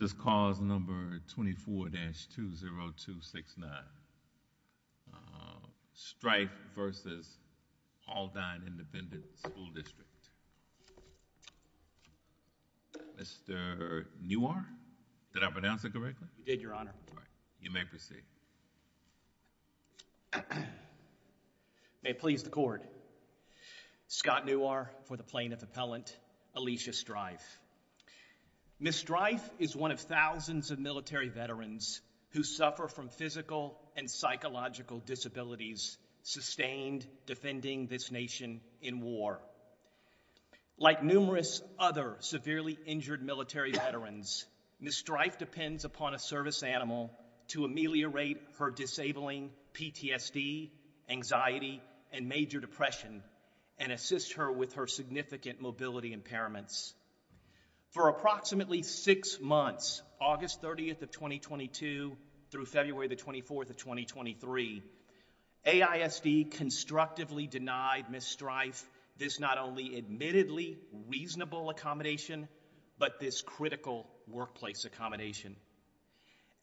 This calls number 24-20269. Strife v. Aldine Independent School District. Mr. Newar, did I pronounce it correctly? You did, Your Honor. You may proceed. May it please the Court, Scott Newar for the plaintiff appellant, Alicia Strife. Ms. Strife is one of thousands of military veterans who suffer from physical and psychological disabilities sustained defending this nation in war. Like numerous other severely injured military veterans, Ms. Strife depends upon a service animal to ameliorate her disabling PTSD, anxiety, and major depression and assist her with her significant mobility impairments. For approximately six months, August 30th of 2022 through February 24th of 2023, AISD constructively denied Ms. Strife this not only admittedly reasonable accommodation, but this critical workplace accommodation.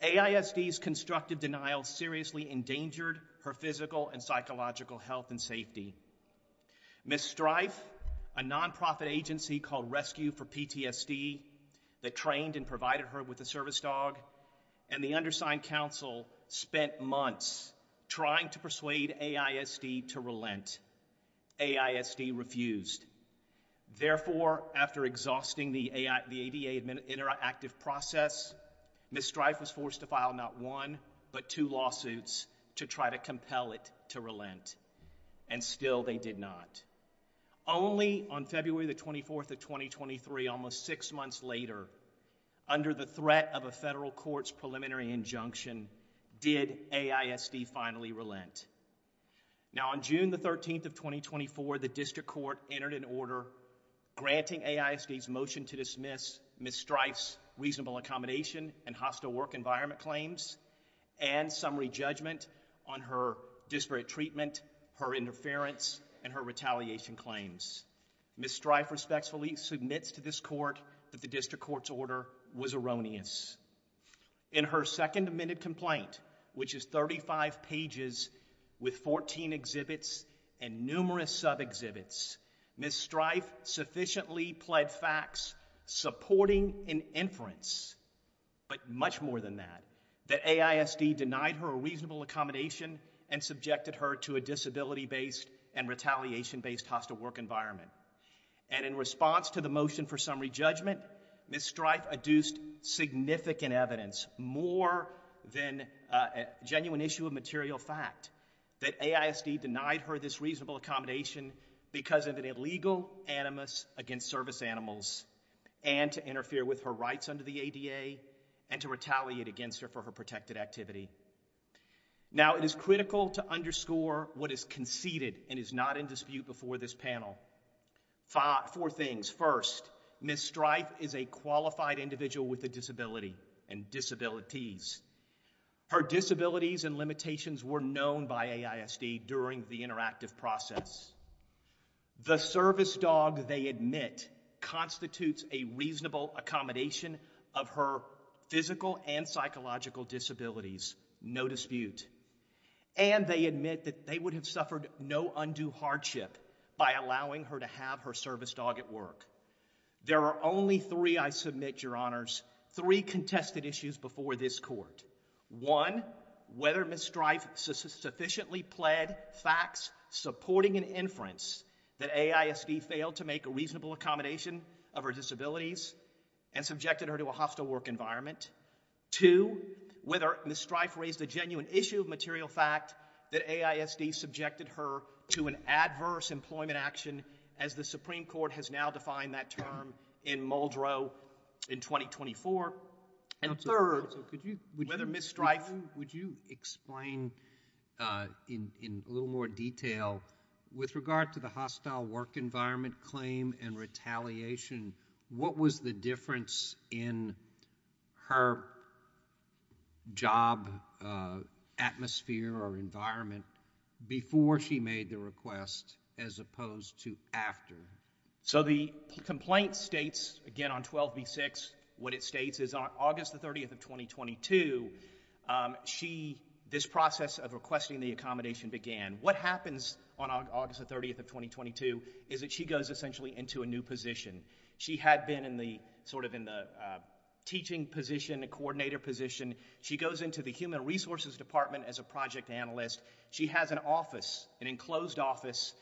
AISD's constructive denial seriously endangered her physical and psychological health and safety. Ms. Strife, a nonprofit agency called Rescue for PTSD that trained and provided her with a service dog, and the undersigned counsel spent months trying to persuade AISD to relent. AISD refused. Therefore, after exhausting the ADA interactive process, Ms. Strife was forced to file not one, but two lawsuits to try to compel it to relent. And still they did not. Only on February 24th of 2023, almost six months later, under the threat of a federal court's preliminary injunction, did AISD finally relent. Now, on June 13th of 2024, the district court entered an order granting AISD's motion to dismiss Ms. Strife's reasonable accommodation and hostile work environment claims and summary judgment on her disparate treatment, her interference, and her retaliation claims. Ms. Strife respectfully submits to this court that the district court's order was erroneous. In her second amended complaint, which is 35 pages with 14 exhibits and numerous sub-exhibits, Ms. Strife sufficiently pled facts supporting an inference, but much more than that, that AISD denied her a reasonable accommodation and subjected her to a disability-based and retaliation-based hostile work environment. And in response to the motion for summary judgment, Ms. Strife adduced significant evidence, more than a genuine issue of material fact, that AISD denied her this reasonable accommodation because of an illegal animus against service animals and to interfere with her rights under the ADA and to retaliate against her for her protected activity. Now, it is critical to underscore what is conceded and is not in dispute before this panel. Four things. First, Ms. Strife is a qualified individual with a disability and disabilities. Her disabilities and limitations were known by AISD during the interactive process. The service dog, they admit, constitutes a reasonable accommodation of her physical and psychological disabilities, no dispute. And they admit that they would have suffered no undue hardship by allowing her to have her service dog at work. There are only three, I submit, your honors, three contested issues before this court. One, whether Ms. Strife sufficiently pled facts supporting an inference that AISD failed to make a reasonable accommodation of her disabilities and subjected her to a hostile work environment. Two, whether Ms. Strife raised a genuine issue of material fact that AISD subjected her to an adverse employment action, as the Supreme Court has now defined that term in Muldrow in 2024. And third, whether Ms. Strife… Counsel, would you explain in a little more detail, with regard to the hostile work environment claim and retaliation, what was the difference in her job atmosphere or environment before she made the request as opposed to after? So the complaint states, again on 12b-6, what it states is on August the 30th of 2022, she, this process of requesting the accommodation began. What happens on August the 30th of 2022 is that she goes essentially into a new position. She had been in the, sort of in the teaching position, the coordinator position. She goes into the human resources department as a project analyst. She has an office, an enclosed office,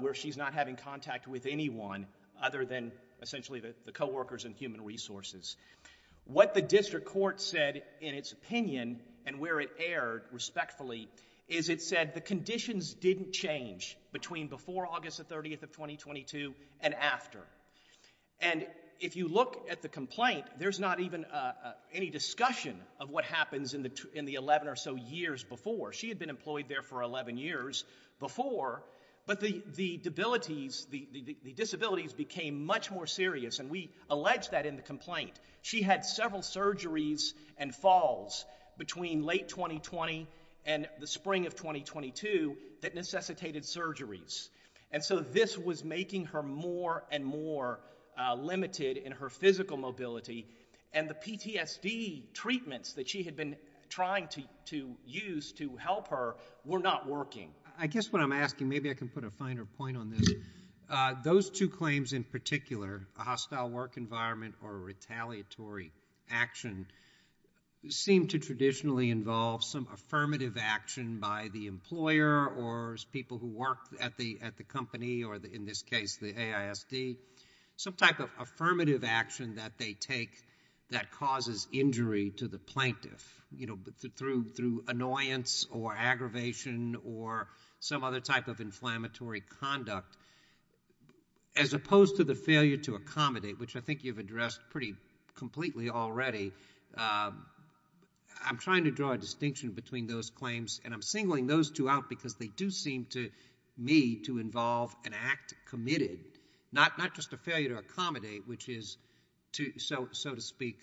where she's not having contact with anyone other than essentially the co-workers and human resources. What the district court said in its opinion and where it erred respectfully is it said the conditions didn't change between before August the 30th of 2022 and after. And if you look at the complaint, there's not even any discussion of what happens in the 11 or so years before. She had been employed there for 11 years before, but the disabilities became much more serious, and we allege that in the complaint. She had several surgeries and falls between late 2020 and the spring of 2022 that necessitated surgeries. And so this was making her more and more limited in her physical mobility, and the PTSD treatments that she had been trying to use to help her were not working. I guess what I'm asking, maybe I can put a finer point on this. Those two claims in particular, a hostile work environment or retaliatory action, seem to traditionally involve some affirmative action by the employer or people who work at the company or in this case the AISD, some type of affirmative action that they take that causes injury to the plaintiff, you know, through annoyance or aggravation or some other type of inflammatory conduct. As opposed to the failure to accommodate, which I think you've addressed pretty completely already, I'm trying to draw a distinction between those claims, and I'm singling those two out because they do seem to me to involve an act committed, not just a failure to accommodate, which is, so to speak,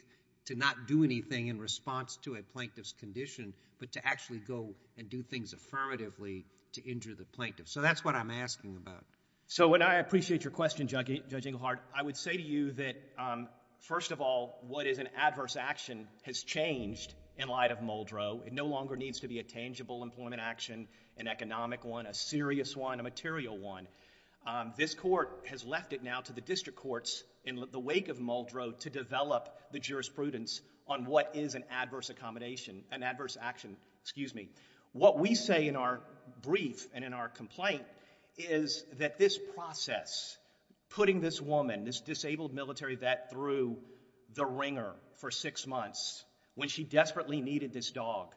to not do anything in response to a plaintiff's condition, but to actually go and do things affirmatively to injure the plaintiff. So that's what I'm asking about. So I appreciate your question, Judge Inglehart. I would say to you that, first of all, what is an adverse action has changed in light of Muldrow. It no longer needs to be a tangible employment action, an economic one, a serious one, a material one. This court has left it now to the district courts in the wake of Muldrow to develop the jurisprudence on what is an adverse accommodation, an adverse action. Excuse me. What we say in our brief and in our complaint is that this process, putting this woman, this disabled military vet, through the ringer for six months when she desperately needed this dog,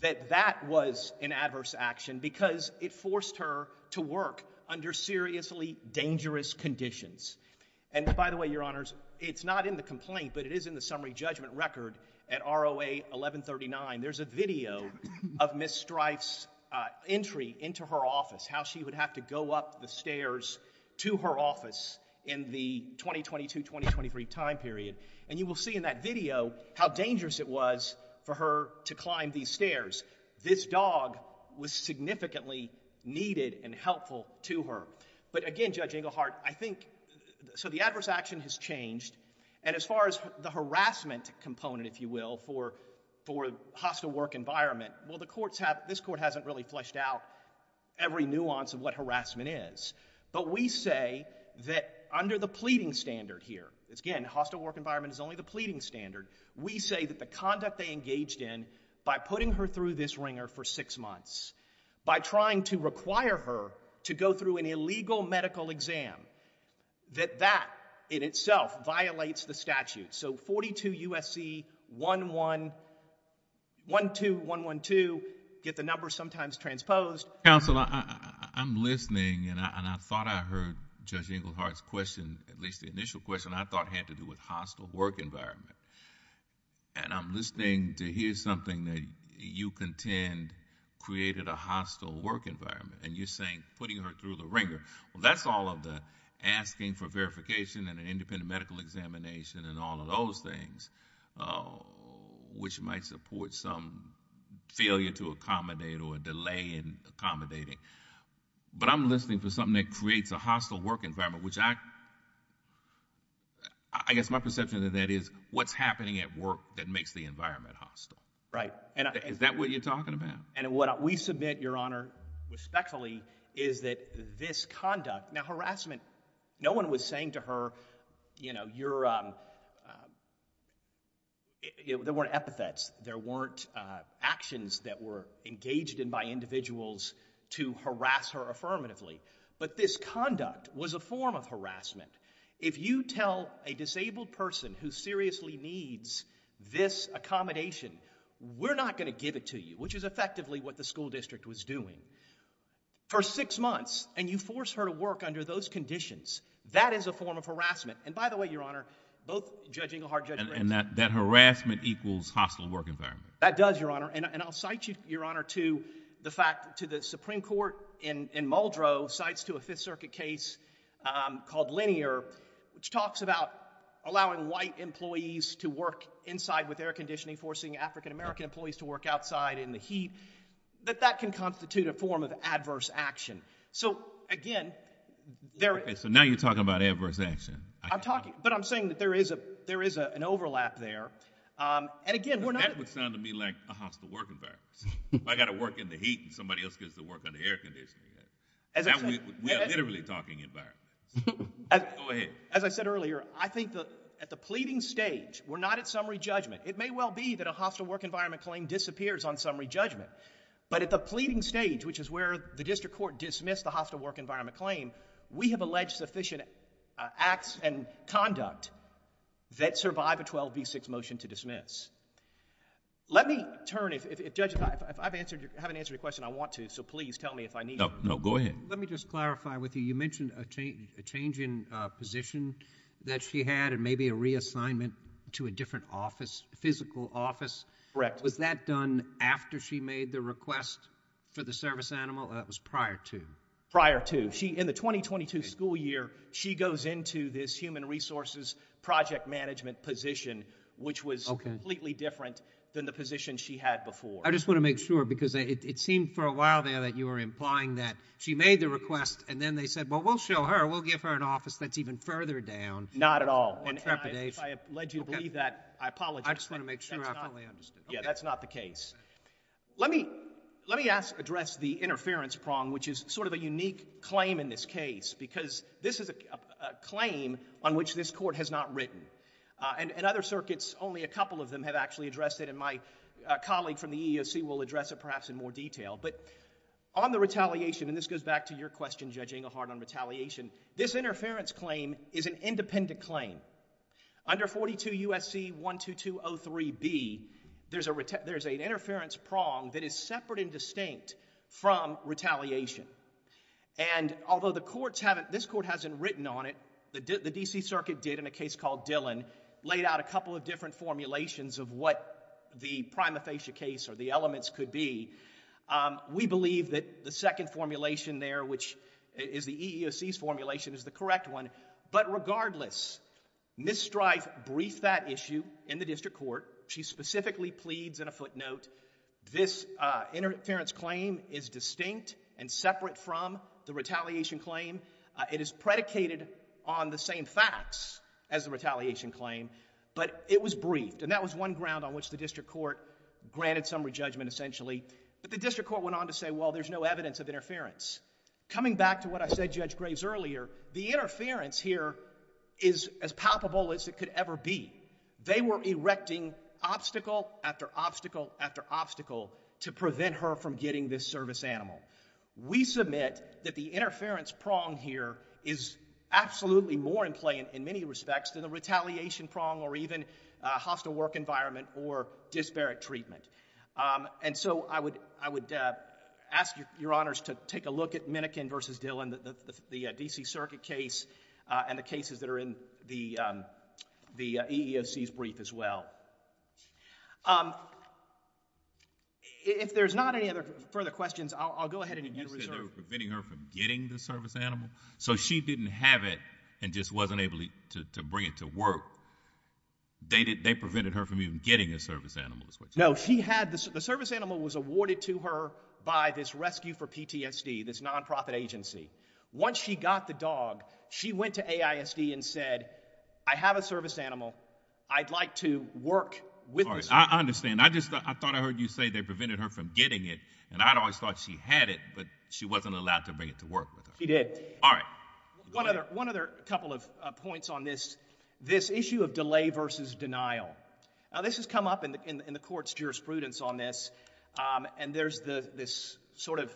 that that was an adverse action because it forced her to work under seriously dangerous conditions. And by the way, Your Honors, it's not in the complaint, but it is in the summary judgment record at ROA 1139. There's a video of Ms. Strife's entry into her office, how she would have to go up the stairs to her office in the 2022-2023 time period. And you will see in that video how dangerous it was for her to climb these stairs. This dog was significantly needed and helpful to her. But again, Judge Englehart, I think so the adverse action has changed. And as far as the harassment component, if you will, for hostile work environment, well, the courts have – this court hasn't really fleshed out every nuance of what harassment is. But we say that under the pleading standard here – again, hostile work environment is only the pleading standard. We say that the conduct they engaged in by putting her through this ringer for six months, by trying to require her to go through an illegal medical exam, that that in itself violates the statute. So 42 U.S.C. 12112, get the number sometimes transposed. Counsel, I'm listening, and I thought I heard Judge Englehart's question, at least the initial question, I thought had to do with hostile work environment. And I'm listening to hear something that you contend created a hostile work environment, and you're saying putting her through the ringer. Well, that's all of the asking for verification and an independent medical examination and all of those things, which might support some failure to accommodate or delay in accommodating. But I'm listening for something that creates a hostile work environment, which I – I guess my perception of that is what's happening at work that makes the environment hostile. Right. Is that what you're talking about? And what we submit, Your Honor, respectfully, is that this conduct – now harassment, no one was saying to her, you know, you're – there weren't epithets, there weren't actions that were engaged in by individuals to harass her affirmatively. But this conduct was a form of harassment. If you tell a disabled person who seriously needs this accommodation, we're not going to give it to you, which is effectively what the school district was doing. For six months, and you force her to work under those conditions, that is a form of harassment. And by the way, Your Honor, both Judge Englehart – And that harassment equals hostile work environment. That does, Your Honor, and I'll cite you, Your Honor, to the fact – to the Supreme Court in Muldrow cites to a Fifth Circuit case called Linear, which talks about allowing white employees to work inside with air conditioning, forcing African-American employees to work outside in the heat, that that can constitute a form of adverse action. So, again, there is – So now you're talking about adverse action. I'm talking – but I'm saying that there is a – there is an overlap there. And, again, we're not – That would sound to me like a hostile work environment. I've got to work in the heat and somebody else gets to work under air conditioning. We are literally talking environments. Go ahead. As I said earlier, I think that at the pleading stage, we're not at summary judgment. It may well be that a hostile work environment claim disappears on summary judgment. But at the pleading stage, which is where the district court dismissed the hostile work environment claim, we have alleged sufficient acts and conduct that survive a 12B6 motion to dismiss. Let me turn – if, Judge, I haven't answered your question. I want to, so please tell me if I need to. No, go ahead. Let me just clarify with you. You mentioned a change in position that she had and maybe a reassignment to a different office, physical office. Correct. Was that done after she made the request for the service animal or that was prior to? Prior to. In the 2022 school year, she goes into this human resources project management position, which was completely different than the position she had before. I just want to make sure because it seemed for a while there that you were implying that she made the request and then they said, well, we'll show her. We'll give her an office that's even further down. Not at all. And if I have led you to believe that, I apologize. I just want to make sure I fully understood. That's not the case. Let me address the interference prong, which is sort of a unique claim in this case because this is a claim on which this court has not written. In other circuits, only a couple of them have actually addressed it, and my colleague from the EEOC will address it perhaps in more detail. But on the retaliation, and this goes back to your question, Judge Engelhardt, on retaliation, this interference claim is an independent claim. Under 42 U.S.C. 12203B, there's an interference prong that is separate and distinct from retaliation. And although this court hasn't written on it, the D.C. Circuit did in a case called Dillon, laid out a couple of different formulations of what the prima facie case or the elements could be. We believe that the second formulation there, which is the EEOC's formulation, is the correct one. But regardless, Ms. Strife briefed that issue in the district court. She specifically pleads in a footnote, this interference claim is distinct and separate from the retaliation claim. It is predicated on the same facts as the retaliation claim, but it was briefed. And that was one ground on which the district court granted summary judgment essentially. But the district court went on to say, well, there's no evidence of interference. Coming back to what I said to Judge Graves earlier, the interference here is as palpable as it could ever be. They were erecting obstacle after obstacle after obstacle to prevent her from getting this service animal. We submit that the interference prong here is absolutely more in play in many respects than the retaliation prong or even hostile work environment or disparate treatment. And so I would ask your honors to take a look at Minikin v. Dillon, the D.C. Circuit case, and the cases that are in the EEOC's brief as well. If there's not any other further questions, I'll go ahead and unmute Reserve. You said they were preventing her from getting the service animal? So she didn't have it and just wasn't able to bring it to work. They prevented her from even getting a service animal is what you're saying? No. The service animal was awarded to her by this Rescue for PTSD, this nonprofit agency. Once she got the dog, she went to AISD and said, I have a service animal. I'd like to work with this dog. I understand. I just thought I heard you say they prevented her from getting it. And I always thought she had it, but she wasn't allowed to bring it to work with her. She did. All right. Go ahead. One other couple of points on this issue of delay versus denial. Now, this has come up in the court's jurisprudence on this. And there's this sort of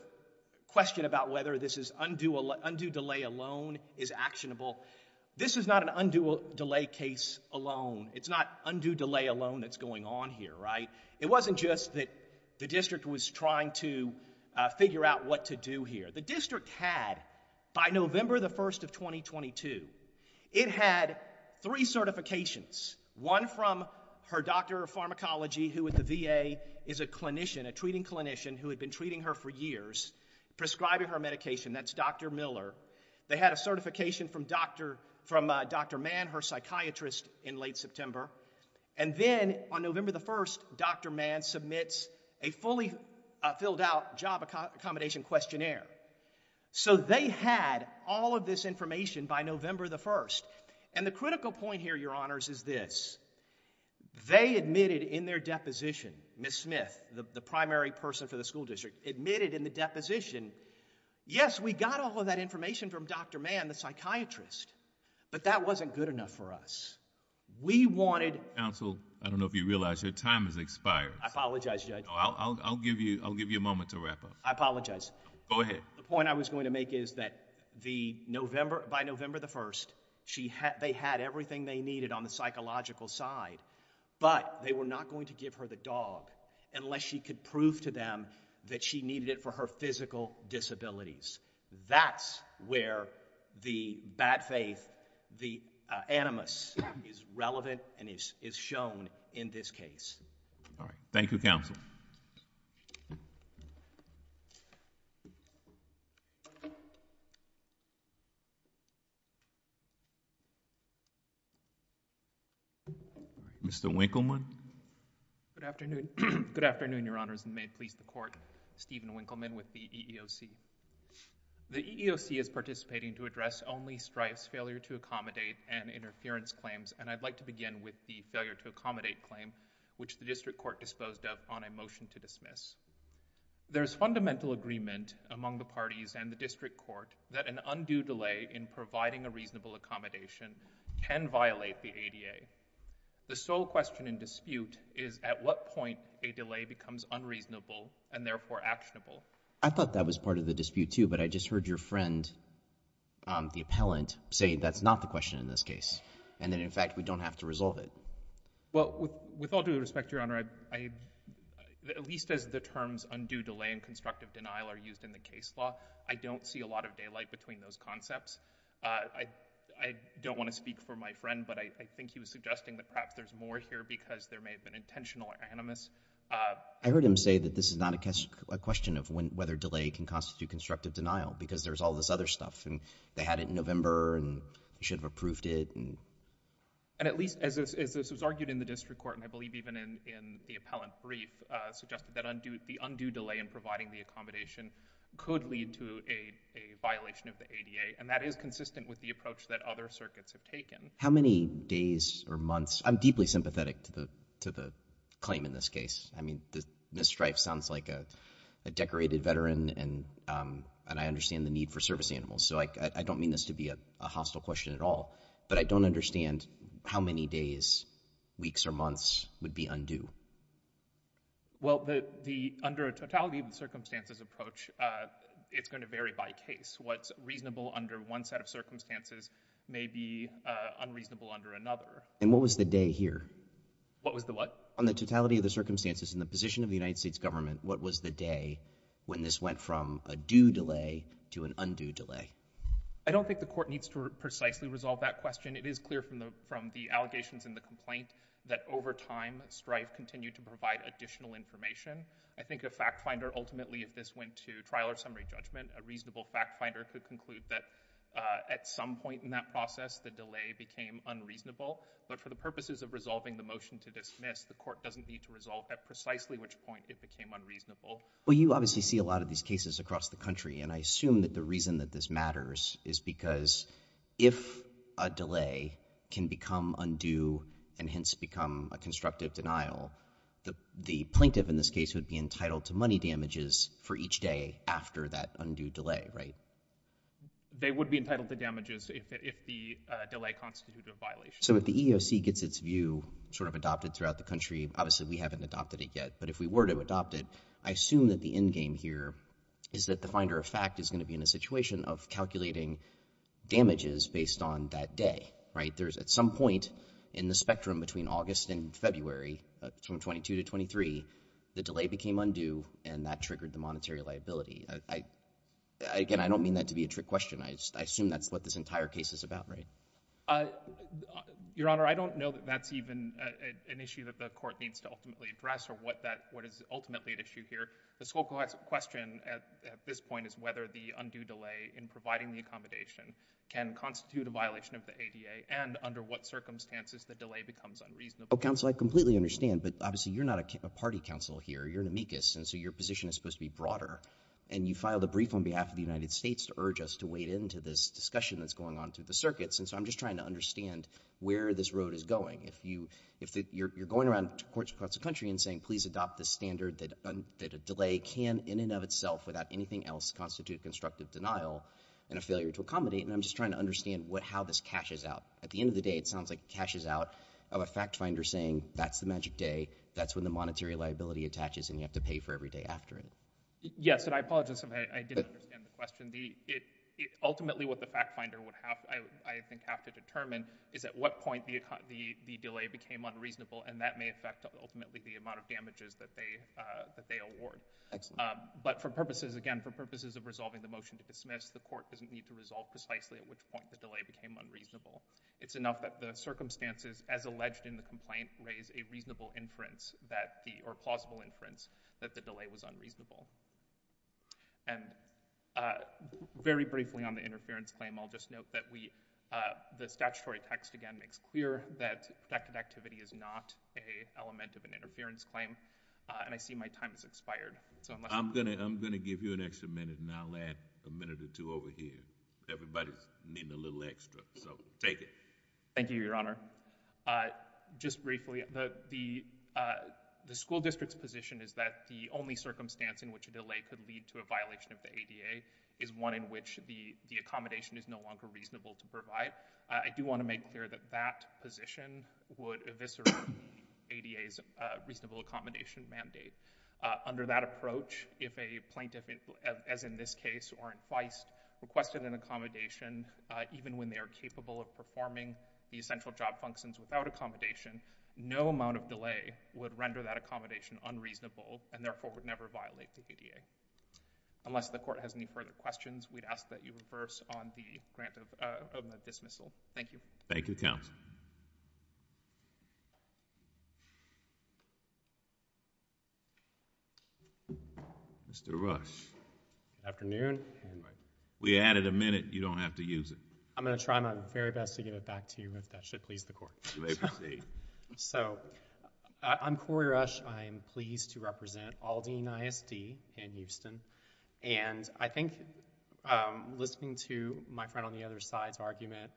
question about whether this is undue delay alone is actionable. This is not an undue delay case alone. It's not undue delay alone that's going on here, right? It wasn't just that the district was trying to figure out what to do here. The district had, by November the 1st of 2022, it had three certifications. One from her doctor of pharmacology, who at the VA is a clinician, a treating clinician, who had been treating her for years, prescribing her medication. That's Dr. Miller. They had a certification from Dr. Mann, her psychiatrist, in late September. And then on November the 1st, Dr. Mann submits a fully filled out job accommodation questionnaire. So they had all of this information by November the 1st. And the critical point here, Your Honors, is this. They admitted in their deposition, Ms. Smith, the primary person for the school district, admitted in the deposition, yes, we got all of that information from Dr. Mann, the psychiatrist, but that wasn't good enough for us. We wanted... Counsel, I don't know if you realize your time has expired. I apologize, Judge. I'll give you a moment to wrap up. I apologize. Go ahead. The point I was going to make is that by November the 1st, they had everything they needed on the psychological side, but they were not going to give her the dog unless she could prove to them that she needed it for her physical disabilities. That's where the bad faith, the animus, is relevant and is shown in this case. All right. Thank you, Counsel. Mr. Winkleman. Good afternoon, Your Honors, and may it please the Court, I'm Stephen Winkleman with the EEOC. The EEOC is participating to address only Strife's failure-to-accommodate and interference claims, and I'd like to begin with the failure-to-accommodate claim, which the district court disposed of on a motion to dismiss. There is fundamental agreement among the parties and the district court that an undue delay in providing a reasonable accommodation can violate the ADA. The sole question in dispute is at what point a delay becomes unreasonable and therefore actionable. I thought that was part of the dispute, too, but I just heard your friend, the appellant, say that's not the question in this case and that, in fact, we don't have to resolve it. Well, with all due respect, Your Honor, at least as the terms undue delay and constructive denial are used in the case law, I don't see a lot of daylight between those concepts. I don't want to speak for my friend, but I think he was suggesting that perhaps there's more here because there may have been intentional animus. I heard him say that this is not a question of whether delay can constitute constructive denial because there's all this other stuff and they had it in November and they should have approved it. And at least as this was argued in the district court, and I believe even in the appellant brief, suggested that the undue delay in providing the accommodation could lead to a violation of the ADA, and that is consistent with the approach that other circuits have taken. How many days or months? I'm deeply sympathetic to the claim in this case. I mean, Ms. Strife sounds like a decorated veteran and I understand the need for service animals, so I don't mean this to be a hostile question at all, but I don't understand how many days, weeks, or months would be undue. Well, under a totality of circumstances approach, it's going to vary by case. What's reasonable under one set of circumstances may be unreasonable under another. And what was the day here? What was the what? On the totality of the circumstances in the position of the United States government, what was the day when this went from a due delay to an undue delay? I don't think the court needs to precisely resolve that question. It is clear from the allegations in the complaint that over time, Strife continued to provide additional information. I think a fact finder ultimately, if this went to trial or summary judgment, a reasonable fact finder could conclude that at some point in that process, the delay became unreasonable. But for the purposes of resolving the motion to dismiss, the court doesn't need to resolve at precisely which point it became unreasonable. Well, you obviously see a lot of these cases across the country and I assume that the reason that this matters is because if a delay can become undue and hence become a constructive denial, the plaintiff in this case would be entitled to money damages for each day after that undue delay, right? They would be entitled to damages if the delay constituted a violation. So if the EEOC gets its view sort of adopted throughout the country, obviously we haven't adopted it yet, but if we were to adopt it, I assume that the endgame here is that the finder of fact is going to be in a situation of calculating damages based on that day, right? There's at some point in the spectrum between August and February, from 22 to 23, the delay became undue and that triggered the monetary liability. Again, I don't mean that to be a trick question. I assume that's what this entire case is about, right? Your Honor, I don't know that that's even an issue that the court needs to ultimately address or what is ultimately at issue here. The sole question at this point is whether the undue delay in providing the accommodation can constitute a violation of the ADA and under what circumstances the delay becomes unreasonable. Counsel, I completely understand, but obviously you're not a party counsel here. You're an amicus and so your position is supposed to be broader and you filed a brief on behalf of the United States to urge us to wade into this discussion that's going on through the circuits and so I'm just trying to understand where this road is going. If you're going around courts across the country and saying please adopt this standard that a delay can in and of itself, without anything else, constitute constructive denial and a failure to accommodate, then I'm just trying to understand how this cashes out. At the end of the day, it sounds like it cashes out of a fact finder saying that's the magic day, that's when the monetary liability attaches and you have to pay for every day after it. Yes, and I apologize if I didn't understand the question. Ultimately what the fact finder would have to determine is at what point the delay became unreasonable and that may affect ultimately the amount of damages that they award. Excellent. But for purposes, again, for purposes of resolving the motion to dismiss, the court doesn't need to resolve precisely at which point the delay became unreasonable. It's enough that the circumstances as alleged in the complaint raise a reasonable inference or plausible inference that the delay was unreasonable. And very briefly on the interference claim, I'll just note that the statutory text again makes clear that protected activity is not an element of an interference claim and I see my time has expired. I'm going to give you an extra minute and I'll add a minute or two over here. Everybody's needing a little extra, so take it. Thank you, Your Honor. Just briefly, the school district's position is that the only circumstance in which a delay could lead to a violation of the ADA is one in which the accommodation is no longer reasonable to provide. I do want to make clear that that position would eviscerate the ADA's reasonable accommodation mandate. Under that approach, if a plaintiff, as in this case or in Feist, requested an accommodation, even when they are capable of performing the essential job functions without accommodation, no amount of delay would render that accommodation unreasonable and therefore would never violate the ADA. Unless the Court has any further questions, we'd ask that you reverse on the grant of dismissal. Thank you. Thank you, counsel. Mr. Rush. Good afternoon. We added a minute. You don't have to use it. I'm going to try my very best to give it back to you, if that should please the Court. You may proceed. I'm Corey Rush. I'm pleased to represent Aldine ISD in Houston. I think listening to my friend on the other side's argument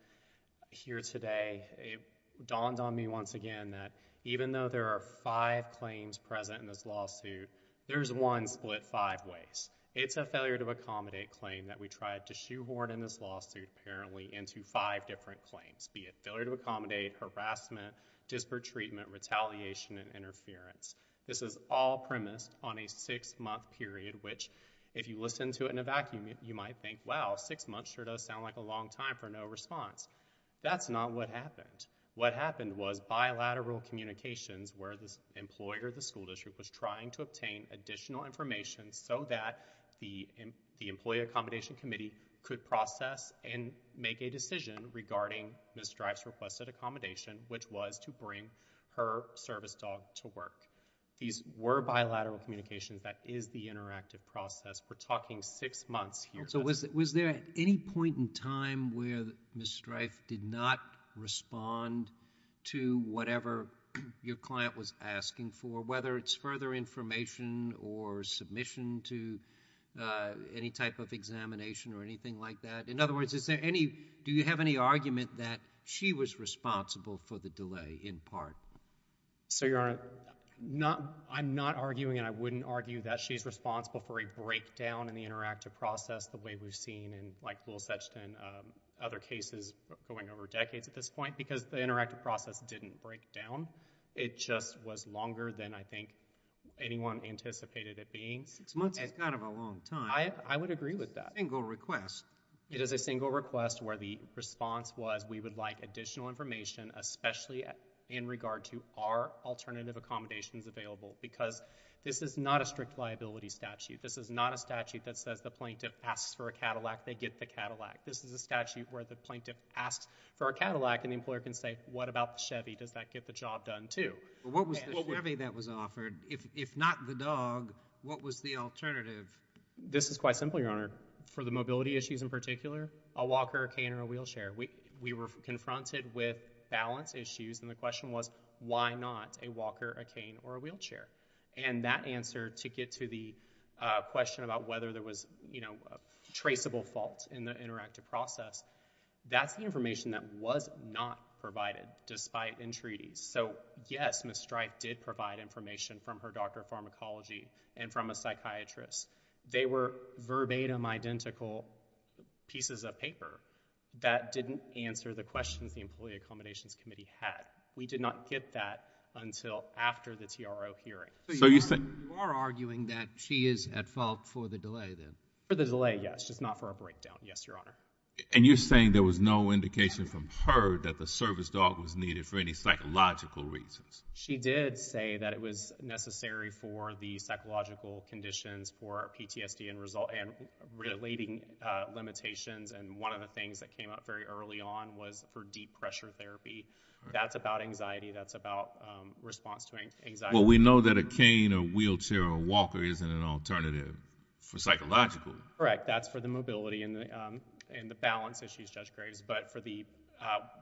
here today, it dawned on me once again that even though there are five claims present in this lawsuit, there's one split five ways. It's a failure to accommodate claim that we tried to shoehorn in this lawsuit, apparently into five different claims, be it failure to accommodate, harassment, disparate treatment, retaliation, and interference. This is all premised on a six-month period, which if you listen to it in a vacuum, you might think, wow, six months sure does sound like a long time for no response. That's not what happened. What happened was bilateral communications where the employer, the school district, was trying to obtain additional information so that the Employee Accommodation Committee could process and make a decision regarding Ms. Strife's requested accommodation, which was to bring her service dog to work. These were bilateral communications. That is the interactive process. We're talking six months here. Was there any point in time where Ms. Strife did not respond to whatever your client was asking for, whether it's further information or submission to any type of examination or anything like that? In other words, do you have any argument that she was responsible for the delay, in part? So, Your Honor, I'm not arguing, and I wouldn't argue that she's responsible for a breakdown in the interactive process the way we've seen in, like, Lill Sexton, other cases going over decades at this point, because the interactive process didn't break down. It just was longer than, I think, anyone anticipated it being. Six months is kind of a long time. I would agree with that. It's a single request. It is a single request where the response was, we would like additional information, especially in regard to are alternative accommodations available? Because this is not a strict liability statute. This is not a statute that says the plaintiff asks for a Cadillac, they get the Cadillac. This is a statute where the plaintiff asks for a Cadillac, and the employer can say, what about the Chevy? Does that get the job done, too? What was the Chevy that was offered? If not the dog, what was the alternative? This is quite simple, Your Honor. For the mobility issues in particular, a walker, a cane, or a wheelchair, we were confronted with balance issues, and the question was, why not a walker, a cane, or a wheelchair? And that answer, to get to the question about whether there was, you know, traceable faults in the interactive process, that's the information that was not provided, despite entreaties. So, yes, Ms. Strife did provide information from her doctor of pharmacology and from a psychiatrist. They were verbatim identical pieces of paper that didn't answer the questions the Employee Accommodations Committee had. We did not get that until after the TRO hearing. So you are arguing that she is at fault for the delay, then? For the delay, yes, just not for a breakdown, yes, Your Honor. And you're saying there was no indication from her that the service dog was needed for any psychological reasons? She did say that it was necessary for the psychological conditions for PTSD and relating limitations, and one of the things that came up very early on was for deep pressure therapy. That's about anxiety. That's about response to anxiety. Well, we know that a cane, a wheelchair, or a walker isn't an alternative for psychological. Correct. That's for the mobility and the balance issues, Judge Graves, but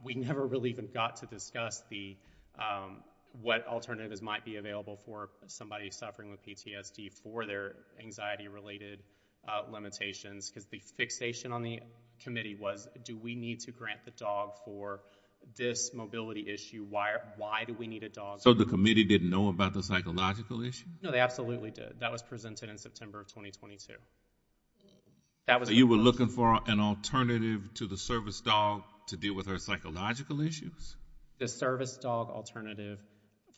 we never really even got to discuss what alternatives might be available for somebody suffering with PTSD for their anxiety-related limitations because the fixation on the committee was, do we need to grant the dog for this mobility issue? Why do we need a dog? So the committee didn't know about the psychological issue? No, they absolutely did. That was presented in September of 2022. So you were looking for an alternative to the service dog to deal with her psychological issues? The service dog alternative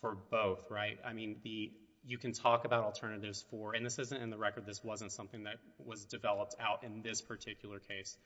for both, right? I mean, you can talk about alternatives for, and this isn't in the record, this wasn't something that was developed out in this particular case,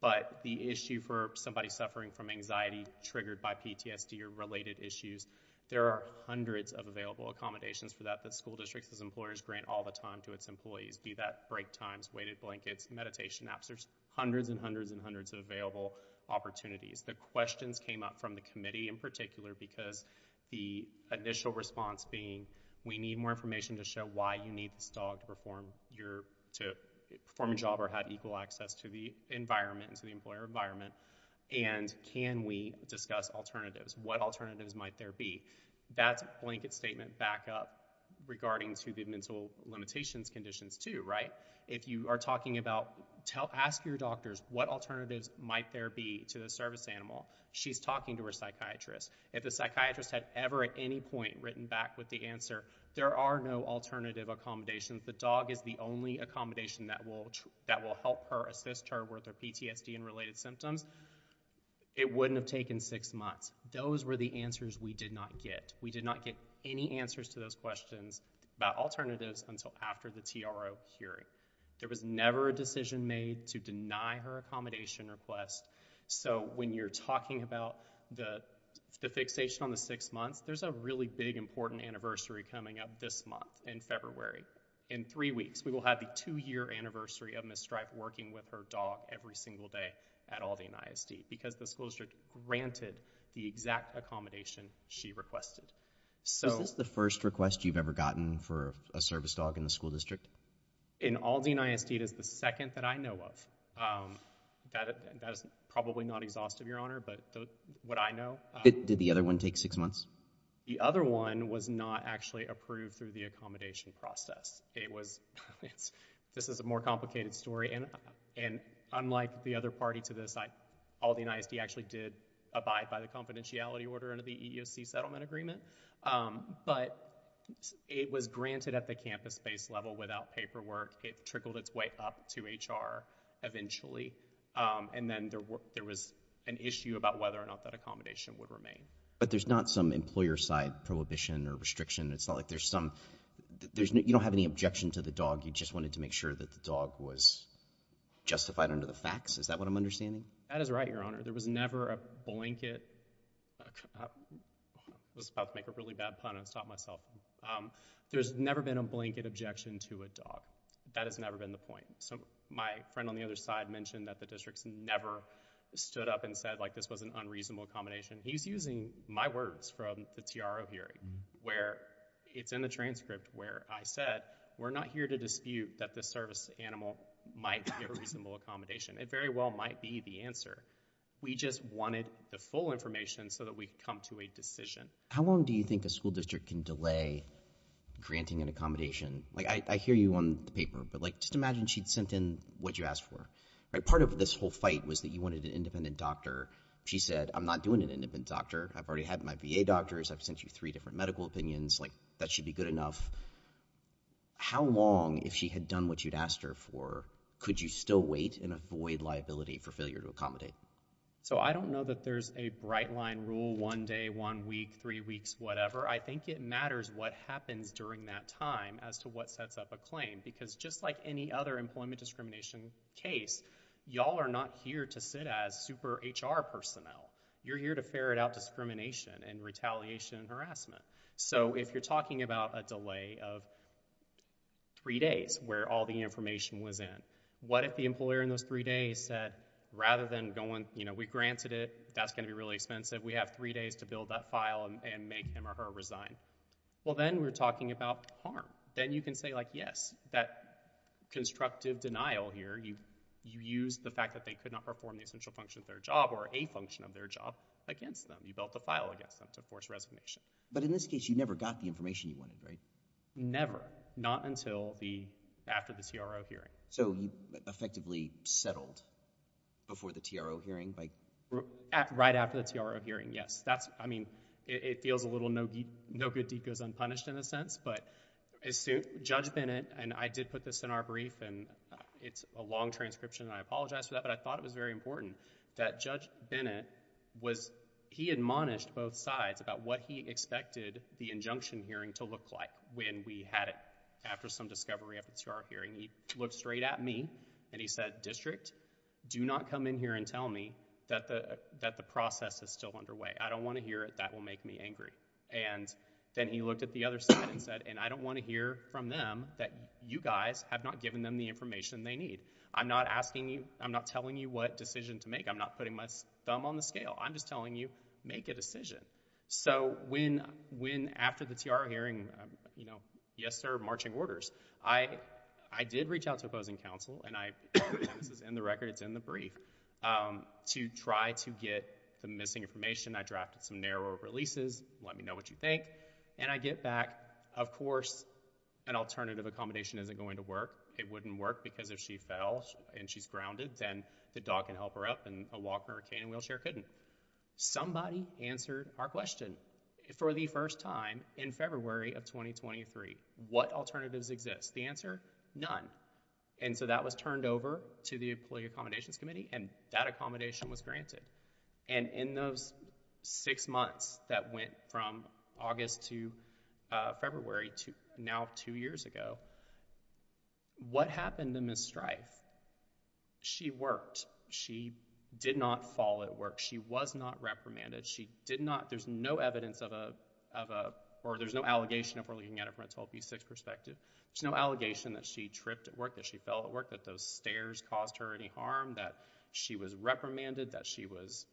but the issue for somebody suffering from anxiety triggered by PTSD or related issues, there are hundreds of available accommodations for that that school districts as employers grant all the time to its employees. Be that break times, weighted blankets, meditation apps, there's hundreds and hundreds and hundreds of available opportunities. The questions came up from the committee in particular because the initial response being, we need more information to show why you need this dog to perform a job or have equal access to the environment, to the employer environment, and can we discuss alternatives? What alternatives might there be? That's a blanket statement back up regarding to the mental limitations conditions too, right? If you are talking about, ask your doctors, what alternatives might there be to the service animal? She's talking to her psychiatrist. If the psychiatrist had ever at any point written back with the answer, there are no alternative accommodations, the dog is the only accommodation that will help her assist her with her PTSD and related symptoms, it wouldn't have taken six months. Those were the answers we did not get. We did not get any answers to those questions about alternatives until after the TRO hearing. There was never a decision made to deny her accommodation request. So when you're talking about the fixation on the six months, there's a really big important anniversary coming up this month in February. In three weeks, we will have the two-year anniversary of Ms. Stripe working with her dog every single day at Aldean ISD because the school district granted the exact accommodation she requested. So... Is this the first request you've ever gotten for a service dog in the school district? In Aldean ISD, it is the second that I know of. That is probably not exhaustive, Your Honor, but what I know... Did the other one take six months? The other one was not actually approved through the accommodation process. It was... This is a more complicated story, and unlike the other party to this, Aldean ISD actually did abide by the confidentiality order under the EEOC settlement agreement, but it was granted at the campus-based level without paperwork. It trickled its way up to HR eventually, and then there was an issue about whether or not that accommodation would remain. But there's not some employer-side prohibition or restriction. It's not like there's some... You don't have any objection to the dog. You just wanted to make sure that the dog was justified under the facts. Is that what I'm understanding? That is right, Your Honor. There was never a blanket... I was about to make a really bad pun and stop myself. There's never been a blanket objection to a dog. That has never been the point. My friend on the other side mentioned that the districts never stood up and said, like, this was an unreasonable accommodation. He's using my words from the TRO hearing, where it's in the transcript where I said, we're not here to dispute that this service animal might be a reasonable accommodation. It very well might be the answer. We just wanted the full information so that we could come to a decision. How long do you think a school district can delay granting an accommodation? Like, I hear you on the paper, but just imagine she'd sent in what you asked for. Part of this whole fight was that you wanted an independent doctor. She said, I'm not doing an independent doctor. I've already had my VA doctors. I've sent you three different medical opinions. That should be good enough. How long, if she had done what you'd asked her for, could you still wait and avoid liability for failure to accommodate? So I don't know that there's a bright line rule, one day, one week, three weeks, whatever. I think it matters what happens during that time as to what sets up a claim. Because just like any other employment discrimination case, y'all are not here to sit as super HR personnel. You're here to ferret out discrimination and retaliation and harassment. So if you're talking about a delay of three days where all the information was in, what if the employer in those three days said, rather than going, you know, we granted it, that's going to be really expensive, we have three days to build that file and make him or her resign? Well, then we're talking about harm. Then you can say, like, yes, that constructive denial here, you used the fact that they could not perform the essential function of their job or a function of their job against them. You built a file against them to force resignation. But in this case, you never got the information you wanted, right? Never. Not until after the TRO hearing. So you effectively settled before the TRO hearing? Right after the TRO hearing, yes. That's, I mean, it feels a little no good deed goes unpunished in a sense. But Judge Bennett, and I did put this in our brief, and it's a long transcription, and I apologize for that, but I thought it was very important that Judge Bennett was, he admonished both sides about what he expected the injunction hearing to look like when we had it. After some discovery after the TRO hearing, he looked straight at me, and he said, District, do not come in here and tell me that the process is still underway. I don't want to hear it. That will make me angry. And then he looked at the other side and said, and I don't want to hear from them that you guys have not given them the information they need. I'm not asking you, I'm not telling you what decision to make. I'm not putting my thumb on the scale. I'm just telling you, make a decision. So when after the TRO hearing, you know, yes, sir, marching orders, I did reach out to opposing counsel, and this is in the record, it's in the brief, to try to get the missing information. I drafted some narrower releases, let me know what you think. And I get back, of course, an alternative accommodation isn't going to work. It wouldn't work because if she fell and she's grounded, then the dog can help her up, and a walker or a cane and wheelchair couldn't. Somebody answered our question. For the first time in February of 2023, what alternatives exist? The answer, none. And so that was turned over to the Appellate Accommodations Committee, and that accommodation was granted. And in those six months that went from August to February, now two years ago, what happened to Ms. Strife? She worked. She did not fall at work. She was not reprimanded. She did not, there's no evidence of a, or there's no allegation, if we're looking at it from a 12B6 perspective, there's no allegation that she tripped at work, that she fell at work, that those stairs caused her any harm, that she was reprimanded, that she was,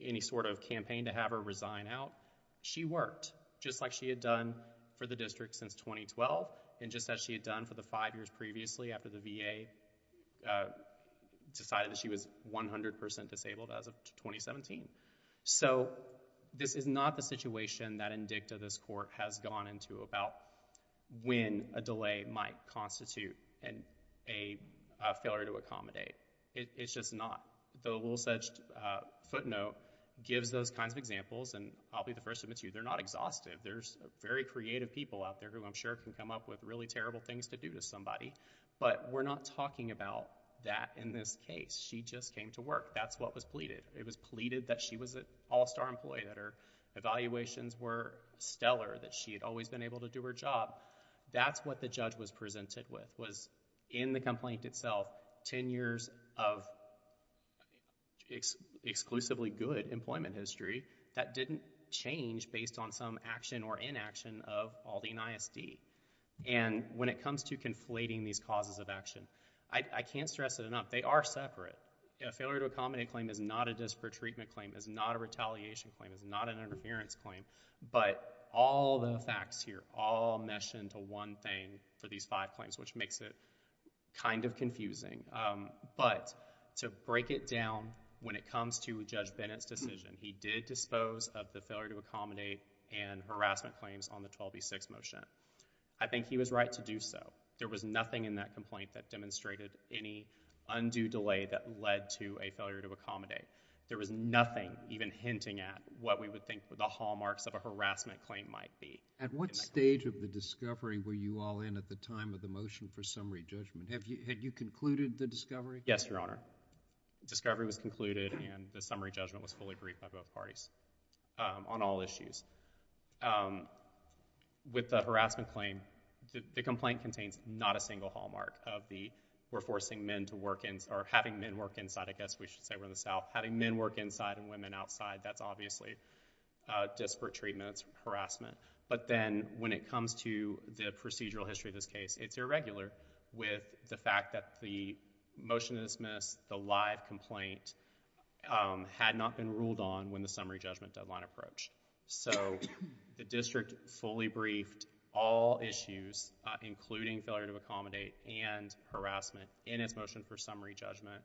any sort of campaign to have her resign out. She worked, just like she had done for the district since 2012, and just as she had done for the five years previously after the VA decided that she was 100% disabled as of 2017. So this is not the situation that in DICTA this court has gone into about when a delay might constitute a failure to accommodate. It's just not. The little such footnote gives those kinds of examples, and I'll be the first to admit to you, they're not exhaustive. There's very creative people out there who I'm sure can come up with really terrible things to do to somebody, but we're not talking about that in this case. She just came to work. That's what was pleaded. It was pleaded that she was an all-star employee, that her evaluations were stellar, that she had always been able to do her job. That's what the judge was presented with, was in the complaint itself 10 years of exclusively good employment history that didn't change based on some action or inaction of Aldine ISD. And when it comes to conflating these causes of action, I can't stress it enough. They are separate. A failure to accommodate claim is not a disparate treatment claim, is not a retaliation claim, is not an interference claim, but all the facts here all mesh into one thing for these five claims, which makes it kind of confusing. But to break it down, when it comes to Judge Bennett's decision, he did dispose of the failure to accommodate and harassment claims on the 12B6 motion. I think he was right to do so. There was nothing in that complaint that demonstrated any undue delay that led to a failure to accommodate. There was nothing even hinting at what we would think the hallmarks of a harassment claim might be. At what stage of the discovery were you all in at the time of the motion for summary judgment? Had you concluded the discovery? Yes, Your Honor. Discovery was concluded, and the summary judgment was fully briefed by both parties on all issues. With the harassment claim, the complaint contains not a single hallmark of the we're forcing men to work inside, or having men work inside, I guess we should say, we're in the South, having men work inside and women outside. That's obviously disparate treatments, harassment. But then when it comes to the procedural history of this case, it's irregular with the fact that the motion to dismiss, the live complaint, had not been ruled on when the summary judgment deadline approached. So the district fully briefed all issues, including failure to accommodate and harassment, in its motion for summary judgment.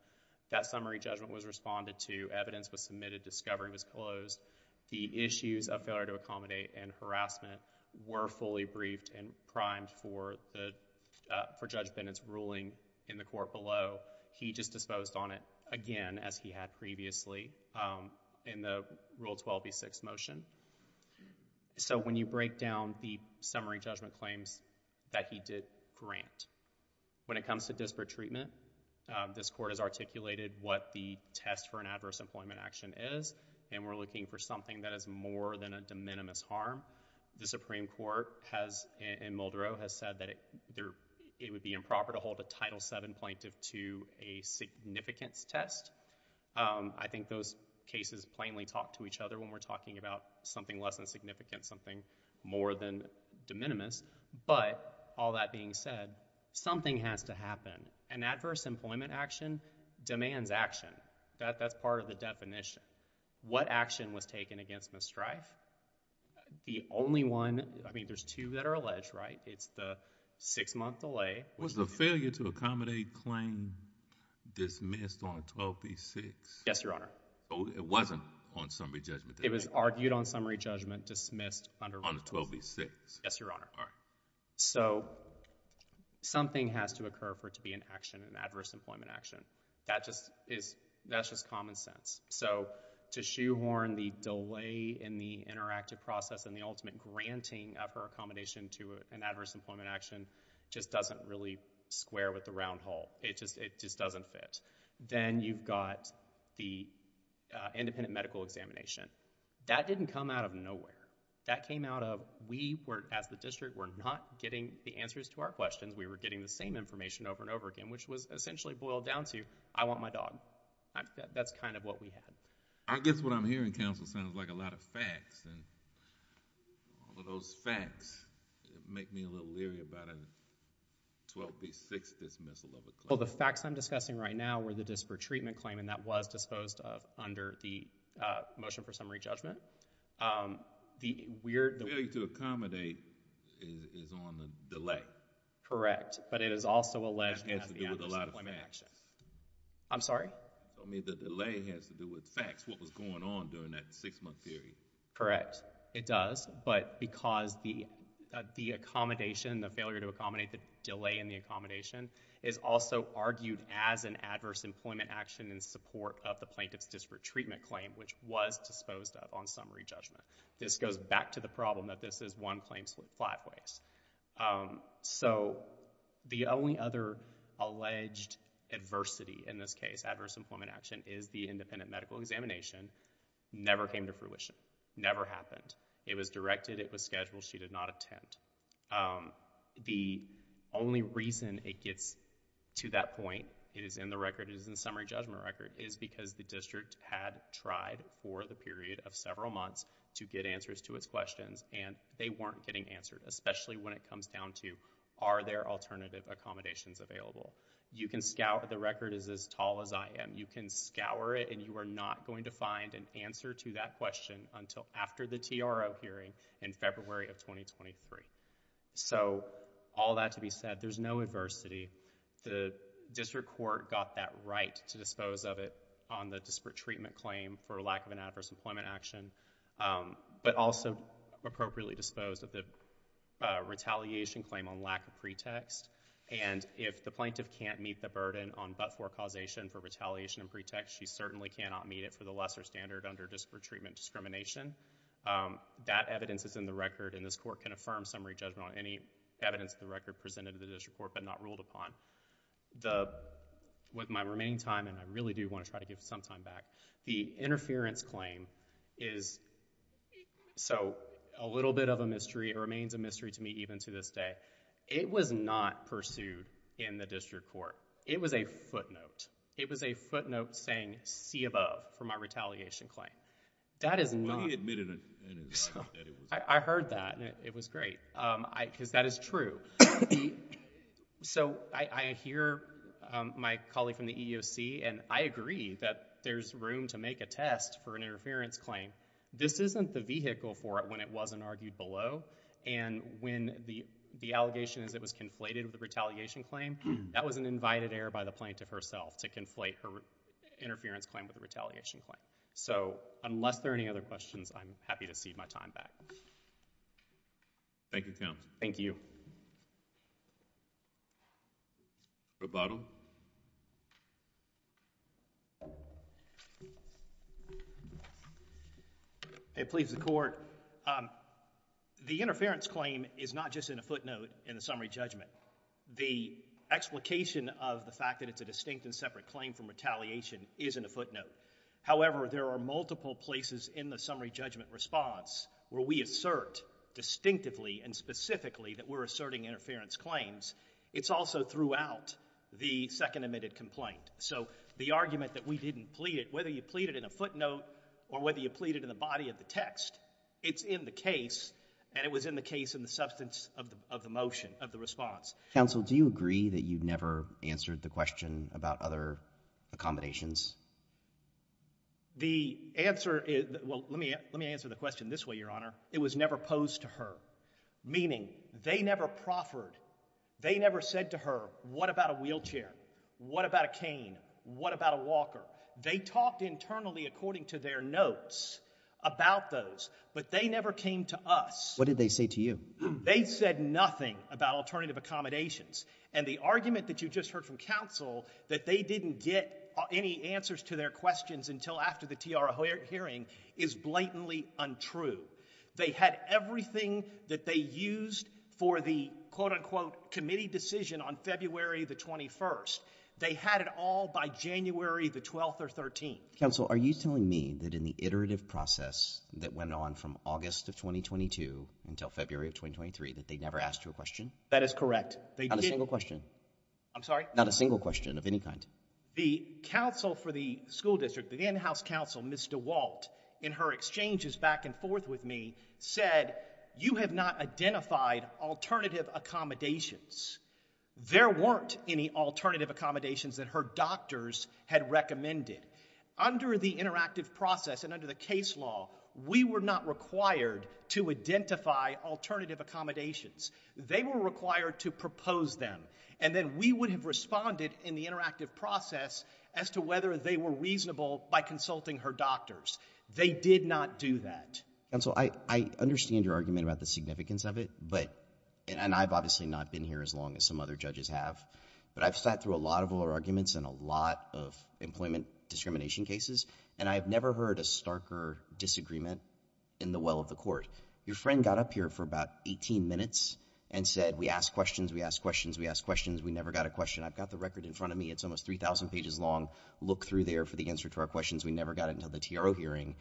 That summary judgment was responded to, evidence was submitted, discovery was closed. The issues of failure to accommodate and harassment were fully briefed and primed for Judge Bennett's ruling in the court below. So he just disposed on it again, as he had previously, in the Rule 12b6 motion. So when you break down the summary judgment claims that he did grant, when it comes to disparate treatment, this court has articulated what the test for an adverse employment action is, and we're looking for something that is more than a de minimis harm. The Supreme Court has, in Muldrow, has said that it would be improper to hold a Title VII plaintiff to a significance test. I think those cases plainly talk to each other when we're talking about something less than significant, something more than de minimis. But all that being said, something has to happen. An adverse employment action demands action. That's part of the definition. What action was taken against Ms. Strife? The only one... I mean, there's two that are alleged, right? It's the six-month delay. Was the failure to accommodate claim dismissed on 12b6? Yes, Your Honor. Oh, it wasn't on summary judgment. It was argued on summary judgment, dismissed under Rule 12b6. On 12b6. Yes, Your Honor. All right. So something has to occur for it to be an action, an adverse employment action. That's just common sense. So to shoehorn the delay in the interactive process and the ultimate granting of her accommodation to an adverse employment action just doesn't really square with the round hole. It just doesn't fit. Then you've got the independent medical examination. That didn't come out of nowhere. That came out of we, as the district, were not getting the answers to our questions. We were getting the same information over and over again, which was essentially boiled down to, I want my dog. That's kind of what we had. I guess what I'm hearing, counsel, sounds like a lot of facts. All of those facts make me a little leery about a 12b6 dismissal of a claim. Well, the facts I'm discussing right now were the disparate treatment claim, and that was disposed of under the motion for summary judgment. The delay to accommodate is on the delay. Correct. But it is also alleged to be an adverse employment action. I'm sorry? I mean, the delay has to do with facts, and that's what was going on during that six-month period. Correct. It does, but because the accommodation, the failure to accommodate the delay in the accommodation, is also argued as an adverse employment action in support of the plaintiff's disparate treatment claim, which was disposed of on summary judgment. This goes back to the problem that this is one claim split five ways. So the only other alleged adversity in this case, adverse employment action, is the independent medical examination, never came to fruition, never happened. It was directed, it was scheduled, she did not attend. The only reason it gets to that point, it is in the record, it is in the summary judgment record, is because the district had tried for the period of several months to get answers to its questions, and they weren't getting answered, especially when it comes down to are there alternative accommodations available. You can scout, the record is as tall as I am, you can scour it, and you are not going to find an answer to that question until after the TRO hearing in February of 2023. So all that to be said, there's no adversity. The district court got that right to dispose of it on the disparate treatment claim for lack of an adverse employment action, but also appropriately disposed of the retaliation claim on lack of pretext. And if the plaintiff can't meet the burden on but-for causation for retaliation and pretext, she certainly cannot meet it for the lesser standard under disparate treatment discrimination. That evidence is in the record, and this court can affirm summary judgment on any evidence in the record presented to the district court but not ruled upon. With my remaining time, and I really do want to try to give some time back, the interference claim is a little bit of a mystery. It remains a mystery to me even to this day. It was not pursued in the district court. It was a footnote. It was a footnote saying, see above for my retaliation claim. That is not... I heard that, and it was great. Because that is true. So I hear my colleague from the EEOC, and I agree that there's room to make a test for an interference claim. This isn't the vehicle for it when it wasn't argued below, and when the allegation is it was conflated with a retaliation claim, that was an invited error by the plaintiff herself to conflate her interference claim with a retaliation claim. So unless there are any other questions, I'm happy to cede my time back. Thank you, counsel. Thank you. It pleads the court. The interference claim is not just in a footnote in the summary judgment. The explication of the fact that it's a distinct and separate claim from retaliation is in a footnote. However, there are multiple places in the summary judgment response where we assert distinctively and specifically that we're asserting interference claims. It's also throughout the second admitted complaint. So the argument that we didn't plead it, whether you plead it in a footnote or whether you plead it in the body of the text, it's in the case, and it was in the case in the substance of the motion, of the response. Counsel, do you agree that you never answered the question about other accommodations? The answer is... Well, let me answer the question this way, Your Honor. It was never posed to her, meaning they never proffered, they never said to her, what about a wheelchair, what about a cane, what about a walker? They talked internally, according to their notes, about those, but they never came to us. What did they say to you? They said nothing about alternative accommodations. And the argument that you just heard from counsel that they didn't get any answers to their questions until after the TR hearing is blatantly untrue. They had everything that they used for the quote-unquote committee decision on February the 21st. They had it all by January the 12th or 13th. Counsel, are you telling me that in the iterative process that went on from August of 2022 until February of 2023, that they never asked you a question? That is correct. Not a single question. I'm sorry? Not a single question of any kind. The counsel for the school district, the in-house counsel, Ms. DeWalt, in her exchanges back and forth with me, said you have not identified alternative accommodations. There weren't any alternative accommodations that her doctors had recommended. Under the interactive process and under the case law, we were not required to identify alternative accommodations. They were required to propose them, and then we would have responded in the interactive process as to whether they were reasonable by consulting her doctors. They did not do that. Counsel, I understand your argument about the significance of it, and I've obviously not been here as long as some other judges have, but I've sat through a lot of oral arguments and a lot of employment discrimination cases, and I have never heard a starker disagreement in the well of the court. Your friend got up here for about 18 minutes and said we asked questions, we asked questions, we asked questions, we never got a question. I've got the record in front of me. It's almost 3,000 pages long. Look through there for the answer to our questions. We never got it until the TRO hearing,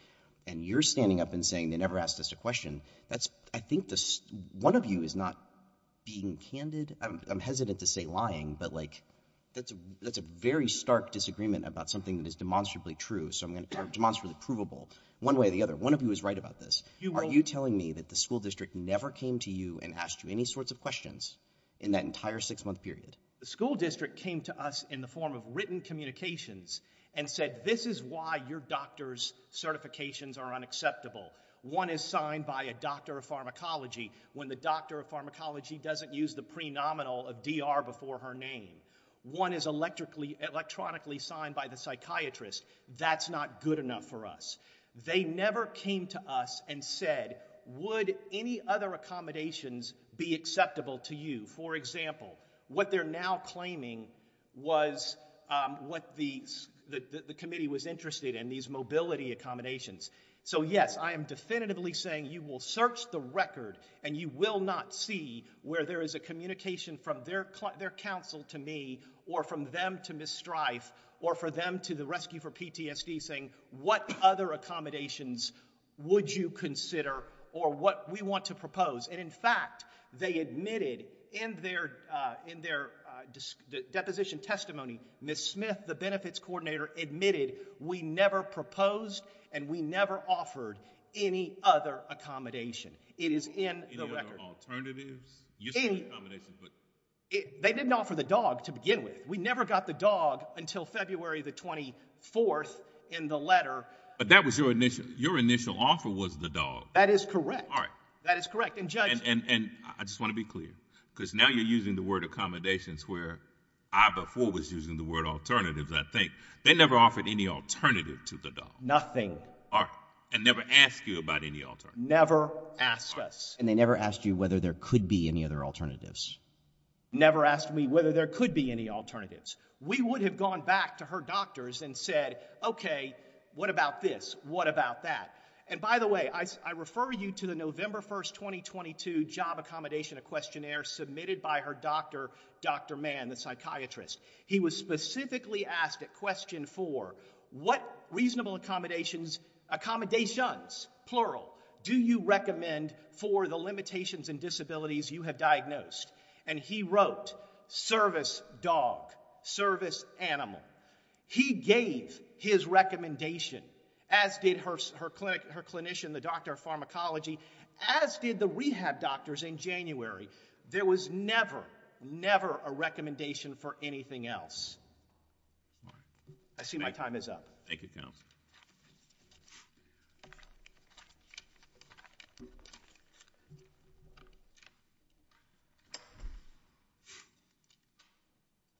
and you're standing up and saying they never asked us a question. I think one of you is not being candid. I'm hesitant to say lying, but that's a very stark disagreement about something that is demonstrably true. Demonstrably provable. One way or the other, one of you is right about this. Are you telling me that the school district never came to you and asked you any sorts of questions in that entire six-month period? The school district came to us in the form of written communications and said this is why your doctor's certifications are unacceptable. One is signed by a doctor of pharmacology when the doctor of pharmacology doesn't use the pre-nominal of DR before her name. One is electronically signed by the psychiatrist. That's not good enough for us. They never came to us and said would any other accommodations be acceptable to you? For example, what they're now claiming was what the committee was interested in, these mobility accommodations. So yes, I am definitively saying you will search the record and you will not see where there is a communication from their counsel to me or from them to Ms. Strife or for them to the Rescue for PTSD saying what other accommodations would you consider or what we want to propose. And in fact, they admitted in their deposition testimony, Ms. Smith, the benefits coordinator, admitted we never proposed and we never offered any other accommodation. It is in the record. Any other alternatives? You said accommodations, but... They didn't offer the dog to begin with. We never got the dog until February the 24th in the letter. But that was your initial... Your initial offer was the dog. That is correct. All right. That is correct. And judge... And I just want to be clear because now you're using the word accommodations where I before was using the word alternatives, I think. They never offered any alternative to the dog. Nothing. All right. And never asked you about any alternative. Never asked us. And they never asked you whether there could be any other alternatives. Never asked me whether there could be any alternatives. We would have gone back to her doctors and said, OK, what about this? What about that? And by the way, I refer you to the November 1st, 2022 job accommodation, a questionnaire submitted by her doctor, Dr. Mann, the psychiatrist. He was specifically asked at question 4, what reasonable accommodations... accommodations, plural, do you recommend for the limitations and disabilities you have diagnosed? And he wrote, service dog, service animal. He gave his recommendation, as did her clinician, the doctor of pharmacology, as did the rehab doctors in January. There was never, never a recommendation for anything else. All right. I see my time is up. Thank you, counsel. Thank you.